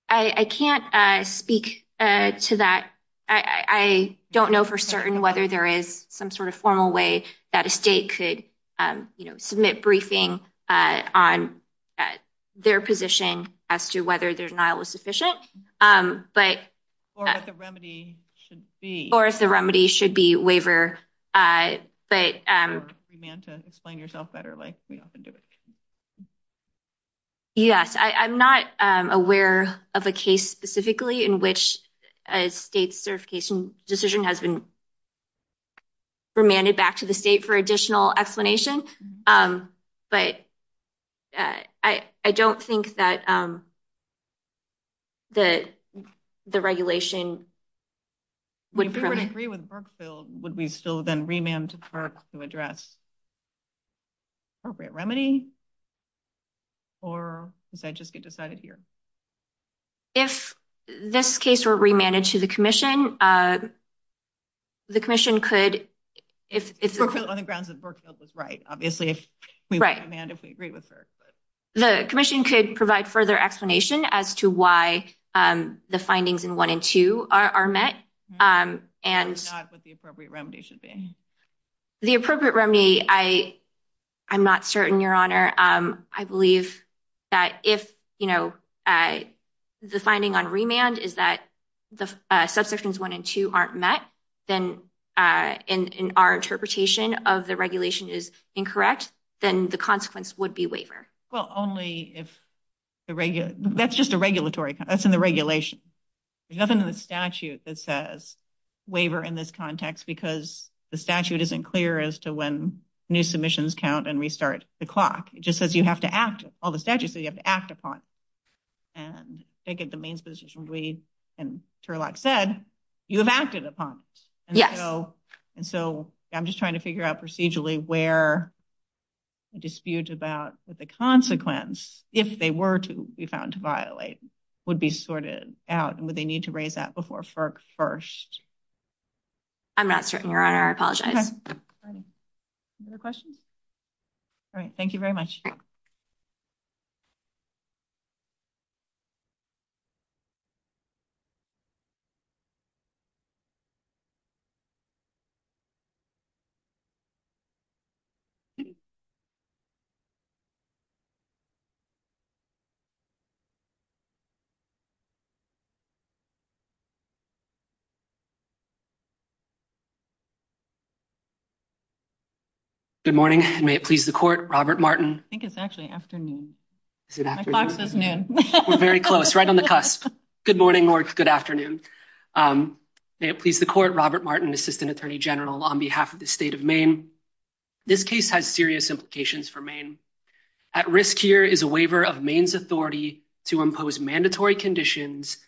I can't speak to that. I don't know for certain whether there is some sort of formal way that a state could, you know, submit briefing on their position as to whether their denial was sufficient. Or if the remedy should be. Or if the remedy should be waiver. Or if you're a free man to explain yourself better like we often do. Yes, I'm not aware of a case specifically in which a state certification decision has been. Remanded back to the state for additional explanation, but. I, I don't think that the, the regulation. Would agree with Burkeville, would we still then remand to park to address. Remedy. Or is that just get decided here? If this case were remanded to the commission. The commission could, if it's on the grounds of Burkeville was right. Obviously, if we, if we agree with her. The commission could provide further explanation as to why the findings in 1 and 2 are met. And what the appropriate remedy should be. The appropriate remedy, I, I'm not certain your honor. I believe. That if, you know, the finding on remand is that the subsections 1 and 2 aren't met. Then in our interpretation of the regulation is incorrect. Then the consequence would be waiver. Well, only if. The regular that's just a regulatory that's in the regulation. There's nothing in the statute that says. Waiver in this context, because the statute isn't clear as to when. New submissions count and restart the clock. It just says you have to act all the statutes that you have to act upon. And take it the main position. And said, you have acted upon. Yes. And so I'm just trying to figure out procedurally where. Dispute about the consequence, if they were to be found to violate. Would be sorted out and what they need to raise that before first. I'm not certain your honor. I apologize. Questions. All right. Thank you very much. Thank you. Good morning. May it please the court. Robert Martin. I think it's actually afternoon. We're very close right on the cusp. Good morning. Good afternoon. May it please the court. Robert Martin, assistant attorney general on behalf of the state of Maine. This case has serious implications for Maine. At risk here is a waiver of Maine's authority to impose mandatory conditions.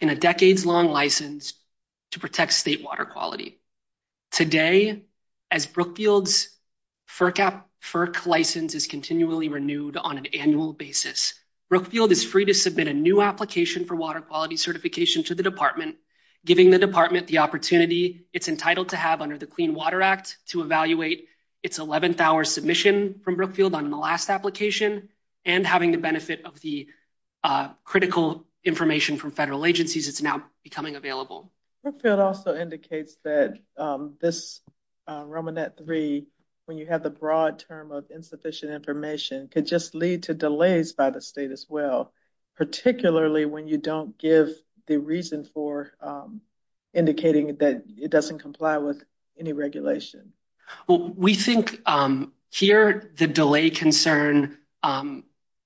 In a decades long license to protect state water quality. Today, as Brookfield's. For cap for license is continually renewed on an annual basis. Brookfield is free to submit a new application for water quality certification to the department. Giving the department the opportunity it's entitled to have under the clean water act to evaluate. It's 11th hour submission from Brookfield on the last application. And having the benefit of the critical information from federal agencies. It's now becoming available. Brookfield also indicates that this Roman that three. When you have the broad term of insufficient information could just lead to delays by the state as well. Particularly when you don't give the reason for indicating that it doesn't comply with any regulation. Well, we think here the delay concern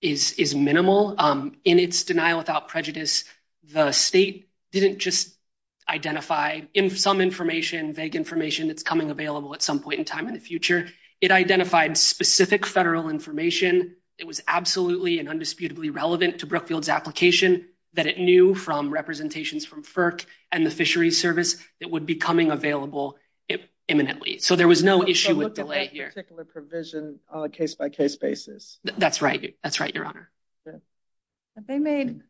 is, is minimal in its denial without prejudice. The state didn't just identify in some information, vague information that's coming available at some point in time in the future. It identified specific federal information. It was absolutely and undisputably relevant to Brookfield's application. That it knew from representations from FERC and the fishery service that would be coming available imminently. So there was no issue with delay here. Particular provision on a case by case basis. That's right. That's right. Your honor. They made.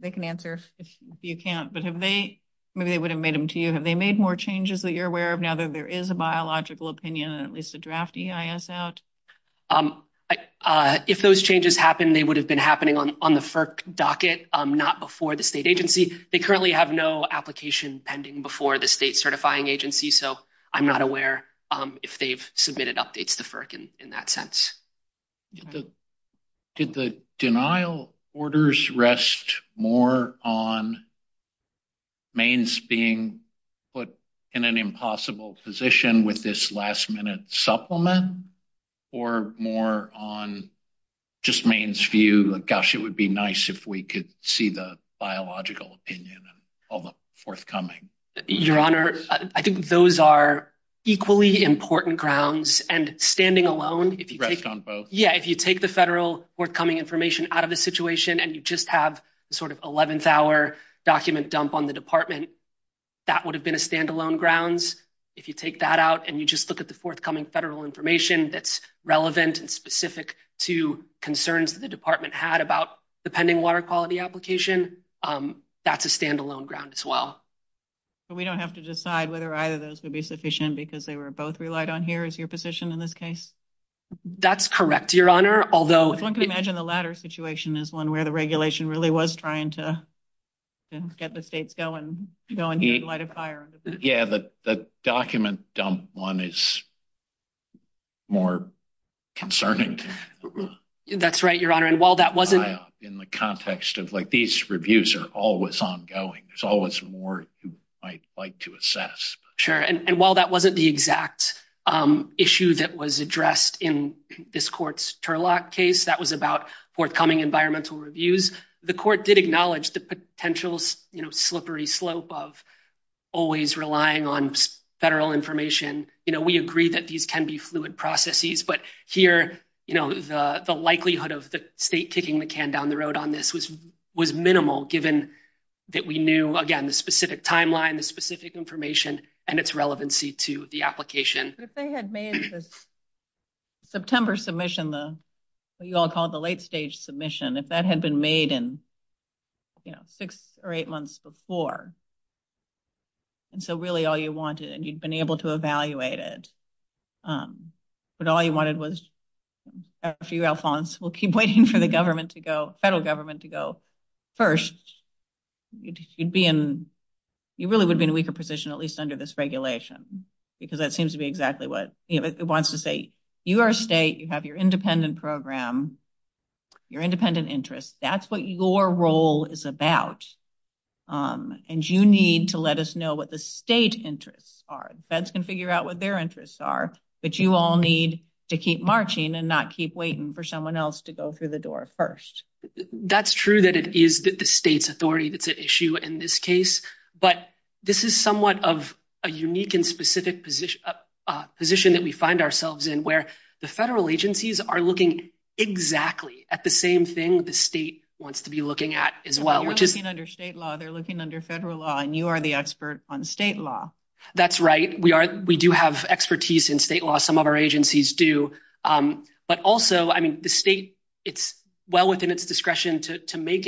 They can answer if you can't. But have they maybe they would have made them to you. Have they made more changes that you're aware of now that there is a biological opinion, at least a draft EIS out. If those changes happen, they would have been happening on the FERC docket, not before the state agency. They currently have no application pending before the state certifying agency. So I'm not aware if they've submitted updates to FERC in that sense. Did the denial orders rest more on Maine's being put in an impossible position with this last minute supplement or more on just Maine's view? Gosh, it would be nice if we could see the biological opinion and all the forthcoming. Your honor, I think those are equally important grounds. And standing alone on both. Yeah. If you take the federal forthcoming information out of the situation and you just have sort of 11th hour document dump on the department, that would have been a standalone grounds. If you take that out and you just look at the forthcoming federal information that's relevant and specific to concerns that the department had about the pending water quality application, that's a standalone ground as well. We don't have to decide whether either of those would be sufficient because they were both relied on. Here is your position in this case. That's correct. Your honor. Although one can imagine the latter situation is one where the regulation really was trying to get the states going, going to light a fire. Yeah, the document dump one is more concerning. That's right, your honor. And while that wasn't in the context of like these reviews are always ongoing, there's always more you might like to assess. Sure. And while that wasn't the exact issue that was addressed in this court's Turlock case, that was about forthcoming environmental reviews. The court did acknowledge the potential slippery slope of always relying on federal information. We agree that these can be fluid processes, but here the likelihood of the state kicking the can down the road on this was minimal given that we knew, again, the specific timeline, the specific information and its relevancy to the application. If they had made this September submission, the what you all call the late stage submission, if that had been made in six or eight months before. And so really all you wanted and you'd been able to evaluate it, but all you wanted was a few Alphonse will keep waiting for the government to go federal government to go first. You'd be in you really would be in a weaker position, at least under this regulation, because that seems to be exactly what it wants to say. You are a state. You have your independent program, your independent interests. That's what your role is about. And you need to let us know what the state interests are. The feds can figure out what their interests are, but you all need to keep marching and not keep waiting for someone else to go through the door first. That's true that it is the state's authority. That's an issue in this case, but this is somewhat of a unique and specific position position that we find ourselves in where the federal agencies are looking exactly at the same thing. The state wants to be looking at as well, which is under state law. They're looking under federal law and you are the expert on state law. That's right. We are. We do have expertise in state law. Some of our agencies do. But also, I mean, the state, it's well within its discretion to make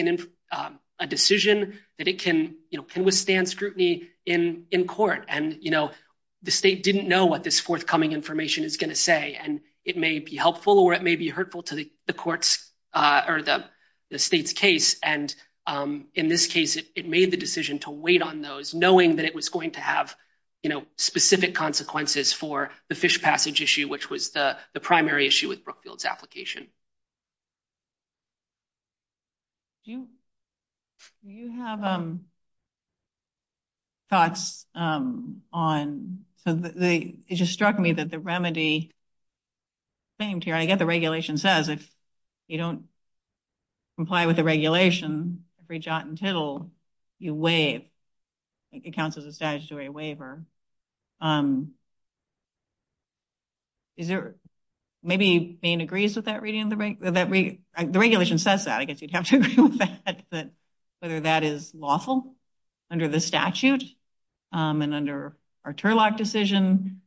a decision that it can withstand scrutiny in in court. And, you know, the state didn't know what this forthcoming information is going to say. And it may be helpful or it may be hurtful to the courts or the state's case. And in this case, it made the decision to wait on those, knowing that it was going to have specific consequences for the fish passage issue, which was the primary issue with Brookfield's application. Do you have thoughts on the it just struck me that the remedy. I get the regulation says if you don't comply with the regulation, reach out until you waive it counts as a statutory waiver. Is there maybe being agrees with that reading that the regulation says that I guess you'd have to agree with that, that whether that is lawful under the statute and under our Turlock decision.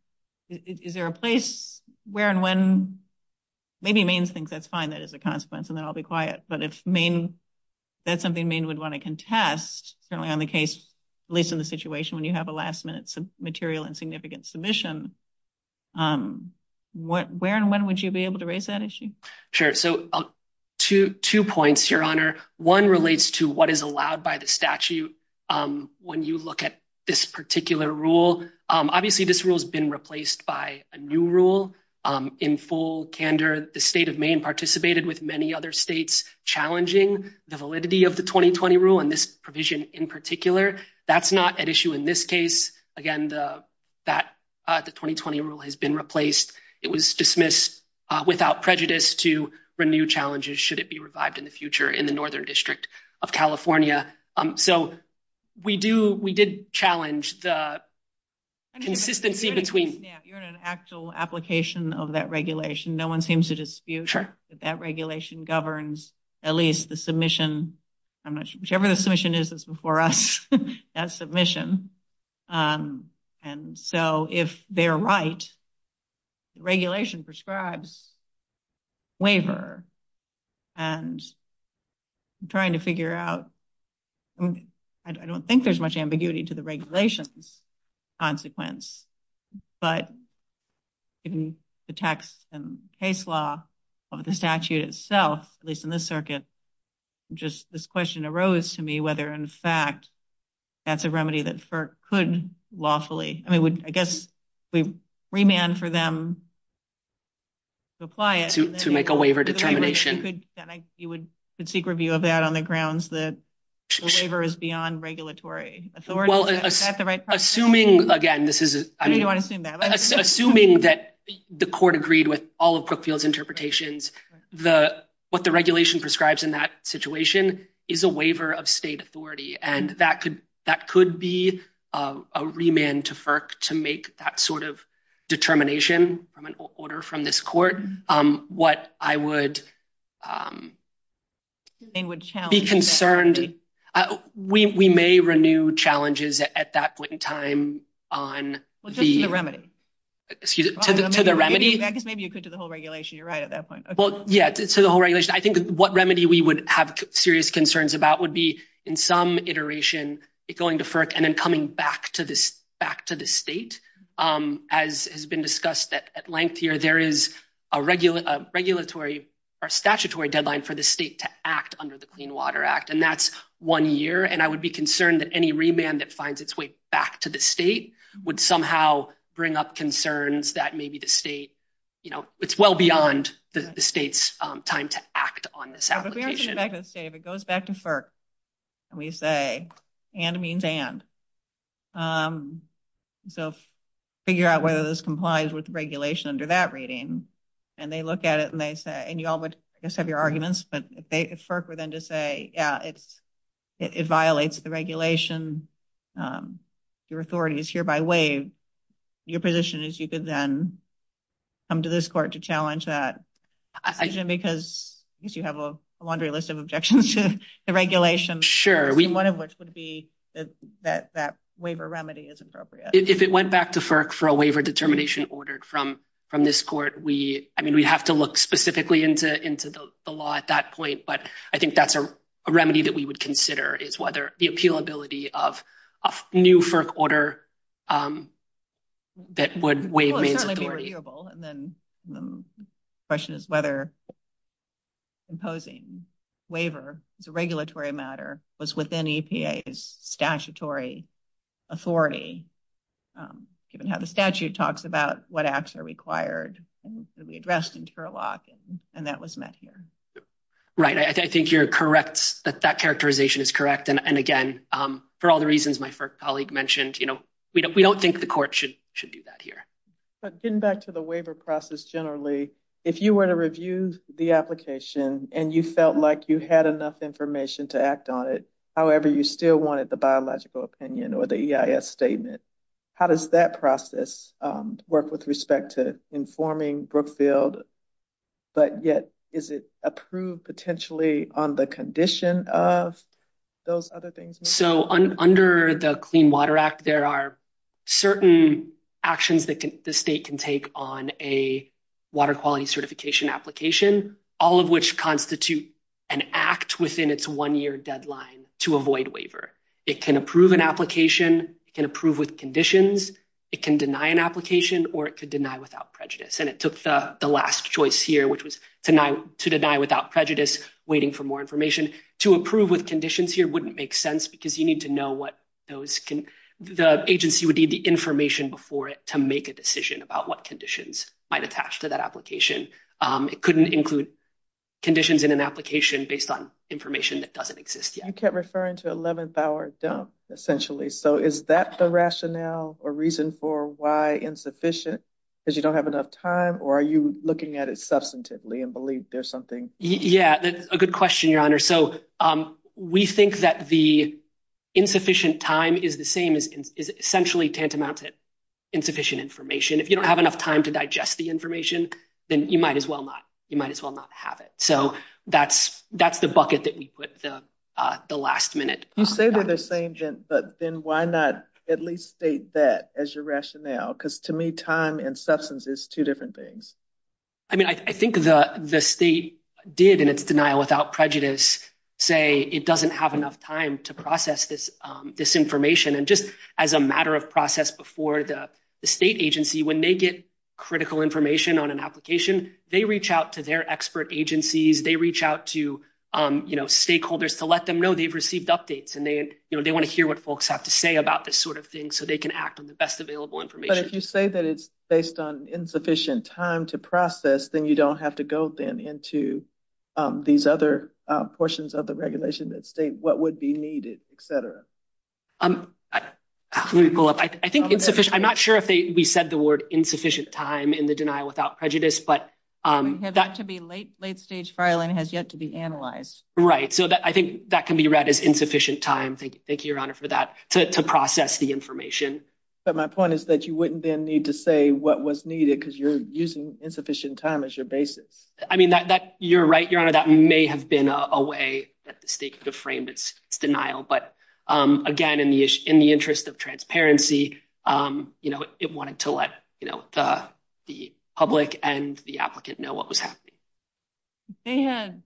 Is there a place where and when maybe means things, that's fine. That is a consequence. And then I'll be quiet. But if Maine, that's something Maine would want to contest, certainly on the case, at least in the situation when you have a last minute material and significant submission. What where and when would you be able to raise that issue. Sure. So, to two points, Your Honor. One relates to what is allowed by the statute. When you look at this particular rule. Obviously, this rule has been replaced by a new rule in full candor. The state of Maine participated with many other states challenging the validity of the 2020 rule and this provision in particular. That's not an issue in this case. Again, the that the 2020 rule has been replaced. It was dismissed without prejudice to renew challenges. Should it be revived in the future in the northern district of California? So, we do we did challenge the consistency between an actual application of that regulation. No one seems to dispute that regulation governs at least the submission. Whichever the submission is before us, that submission. And so, if they're right, regulation prescribes waiver. And I'm trying to figure out. I don't think there's much ambiguity to the regulations consequence, but in the text and case law of the statute itself, at least in this circuit, just this question arose to me whether, in fact, that's a remedy that could lawfully. I mean, I guess we remand for them to apply it to make a waiver determination. You would seek review of that on the grounds that the waiver is beyond regulatory authority. Assuming that the court agreed with all of Brookfield's interpretations, what the regulation prescribes in that situation is a waiver of state authority and that could be a remand to FERC to make that sort of determination from an order from this court. What I would be concerned, we may renew challenges at that point in time on the remedy to the remedy, because maybe you could do the whole regulation. You're right at that point. Well, yeah, it's a whole regulation. I think what remedy we would have serious concerns about would be in some iteration, it going to FERC and then coming back to the state. As has been discussed at length here, there is a regulatory or statutory deadline for the state to act under the Clean Water Act, and that's one year. And I would be concerned that any remand that finds its way back to the state would somehow bring up concerns that maybe the state, you know, it's well beyond the state's time to act on this application. If it goes back to FERC and we say, and means and, so figure out whether this complies with regulation under that reading. And they look at it and they say, and you all would have your arguments, but if FERC were then to say, yeah, it's, it violates the regulation, your authority is hereby waived. Your position is you could then come to this court to challenge that decision because you have a laundry list of objections to the regulation. Sure. One of which would be that that waiver remedy is appropriate. If it went back to FERC for a waiver determination ordered from this court, we, I mean, we have to look specifically into the law at that point, but I think that's a remedy that we would consider is whether the appealability of a new FERC order that would waive means authority. And then the question is whether imposing waiver as a regulatory matter was within EPA's statutory authority, given how the statute talks about what acts are required to be addressed in Turlock and that was met here. Right. I think you're correct that that characterization is correct. And again, for all the reasons my colleague mentioned, you know, we don't, we don't think the court should, should do that here. But getting back to the waiver process generally, if you were to review the application and you felt like you had enough information to act on it, however, you still wanted the biological opinion or the EIS statement. How does that process work with respect to informing Brookfield? But yet, is it approved potentially on the condition of those other things? So, under the Clean Water Act, there are certain actions that the state can take on a water quality certification application, all of which constitute an act within its one year deadline to avoid waiver. It can approve an application, it can approve with conditions, it can deny an application, or it could deny without prejudice. And it took the last choice here, which was to deny without prejudice, waiting for more information. To approve with conditions here wouldn't make sense because you need to know what those can, the agency would need the information before it to make a decision about what conditions might attach to that application. It couldn't include conditions in an application based on information that doesn't exist yet. You kept referring to 11th hour dump, essentially. So, is that the rationale or reason for why insufficient? Because you don't have enough time or are you looking at it substantively and believe there's something? Yeah, that's a good question, Your Honor. So, we think that the insufficient time is the same as essentially tantamount to insufficient information. If you don't have enough time to digest the information, then you might as well not have it. So, that's the bucket that we put the last minute. You say they're the same, but then why not at least state that as your rationale? Because to me, time and substance is two different things. I mean, I think the state did, in its denial without prejudice, say it doesn't have enough time to process this information. And just as a matter of process before the state agency, when they get critical information on an application, they reach out to their expert agencies. They reach out to stakeholders to let them know they've received updates and they want to hear what folks have to say about this sort of thing so they can act on the best available information. But if you say that it's based on insufficient time to process, then you don't have to go then into these other portions of the regulation that state what would be needed, etc. I'm not sure if we said the word insufficient time in the denial without prejudice. It has yet to be late stage filing. It has yet to be analyzed. Right. So, I think that can be read as insufficient time. Thank you, Your Honor, for that, to process the information. But my point is that you wouldn't then need to say what was needed because you're using insufficient time as your basis. I mean, you're right, Your Honor, that may have been a way that the state could have framed its denial. But again, in the interest of transparency, it wanted to let the public and the applicant know what was happening. They had,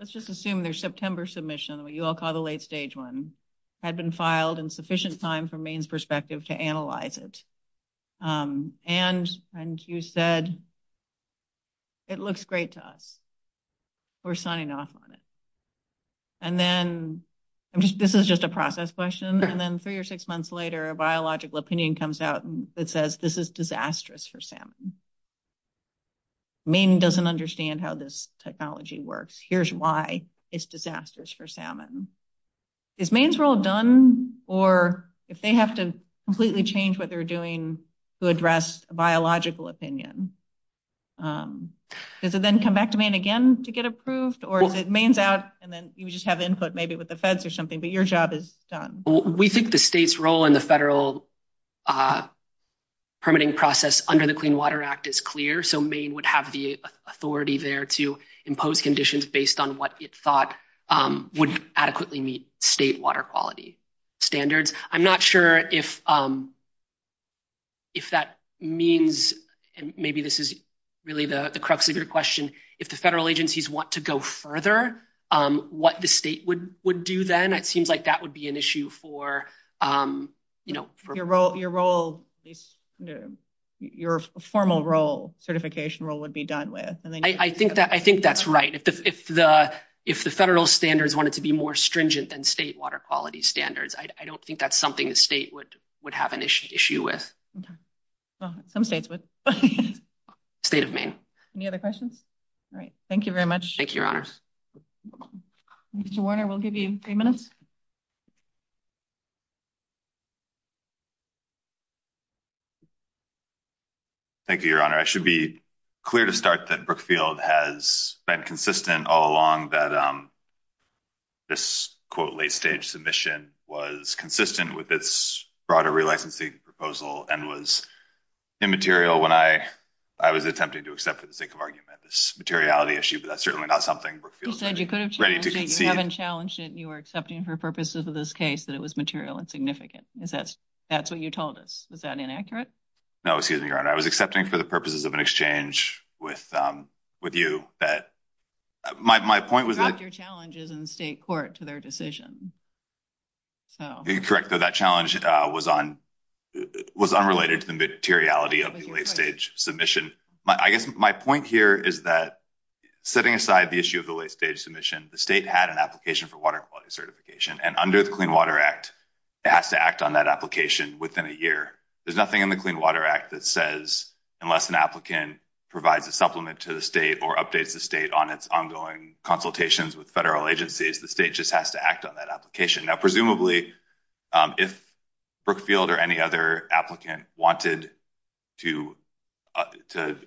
let's just assume their September submission, what you all call the late stage one, had been filed in sufficient time from Maine's perspective to analyze it. And you said, it looks great to us. We're signing off on it. And then, this is just a process question, and then three or six months later a biological opinion comes out that says this is disastrous for salmon. Maine doesn't understand how this technology works. Here's why it's disastrous for salmon. Is Maine's role done? Or if they have to completely change what they're doing to address a biological opinion, does it then come back to Maine again to get approved? Or is it Maine's out and then you just have input maybe with the feds or something, but your job is done? We think the state's role in the federal permitting process under the Clean Water Act is clear. So Maine would have the authority there to impose conditions based on what it thought would adequately meet state water quality standards. I'm not sure if that means, and maybe this is really the crux of your question, if the federal agencies want to go further, what the state would do then. It seems like that would be an issue for... Your formal certification role would be done with. I think that's right. If the federal standards wanted to be more stringent than state water quality standards, I don't think that's something the state would have an issue with. Some states would. State of Maine. Any other questions? All right. Thank you very much. Thank you, Your Honors. Mr. Warner, we'll give you three minutes. Thank you, Your Honor. I should be clear to start that Brookfield has been consistent all along that this, quote, late stage submission was consistent with its broader relicensing proposal and was immaterial when I was attempting to accept for the sake of argument this materiality issue. But that's certainly not something Brookfield is ready to concede. You said you could have challenged it, you haven't challenged it, and you were accepting for purposes of this case that it was material and significant. That's what you told us. Is that inaccurate? No, excuse me, Your Honor. I was accepting for the purposes of an exchange with you that my point was... You dropped your challenges in state court to their decision. You're correct that that challenge was unrelated to the materiality of the late stage submission. I guess my point here is that setting aside the issue of the late stage submission, the state had an application for water quality certification. And under the Clean Water Act, it has to act on that application within a year. There's nothing in the Clean Water Act that says unless an applicant provides a supplement to the state or updates the state on its ongoing consultations with federal agencies, the state just has to act on that application. Now, presumably, if Brookfield or any other applicant wanted to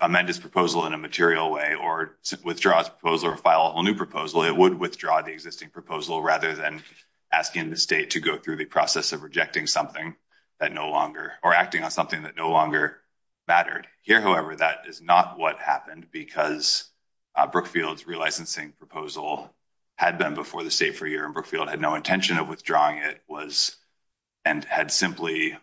amend his proposal in a material way or withdraw his proposal or file a whole new proposal, it would withdraw the existing proposal rather than asking the state to go through the process of rejecting something that no longer... or acting on something that no longer mattered. Here, however, that is not what happened because Brookfield's relicensing proposal had been before the state for a year, and Brookfield had no intention of withdrawing it, and had simply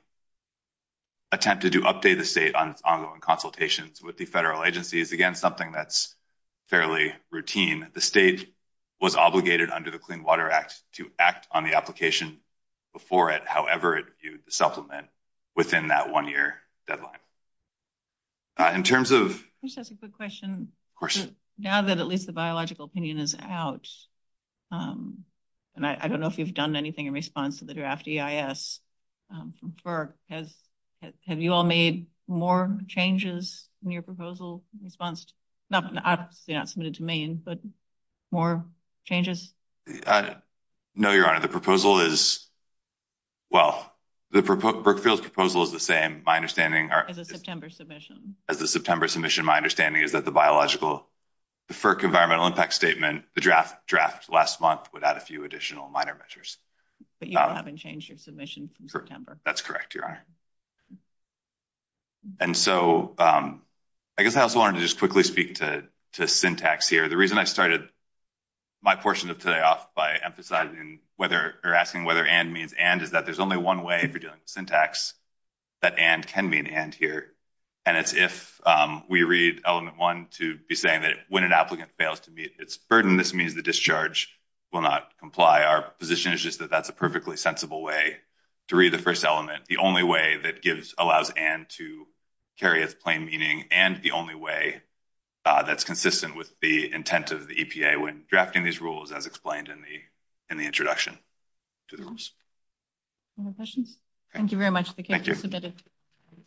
attempted to update the state on its ongoing consultations with the federal agencies. Again, something that's fairly routine. The state was obligated under the Clean Water Act to act on the application before it, however it viewed the supplement, within that one-year deadline. In terms of... Can I just ask a quick question? Of course. Now that at least the biological opinion is out, and I don't know if you've done anything in response to the draft EIS from FERC, have you all made more changes in your proposal in response to... Obviously not submitted to me, but more changes? No, Your Honor. The proposal is... Well, Brookfield's proposal is the same, my understanding... As a September submission. As a September submission, my understanding is that the biological... The FERC environmental impact statement, the draft last month, would add a few additional minor measures. But you haven't changed your submission from September. That's correct, Your Honor. And so I guess I also wanted to just quickly speak to syntax here. The reason I started my portion of today off by emphasizing whether... Or asking whether and means and is that there's only one way for doing syntax that and can mean and here. And it's if we read element one to be saying that when an applicant fails to meet its burden, this means the discharge will not comply. Our position is just that that's a perfectly sensible way to read the first element. The only way that gives... Allows and to carry its plain meaning and the only way that's consistent with the intent of the EPA when drafting these rules, as explained in the introduction to the rules. Any more questions? Thank you very much. The case is submitted.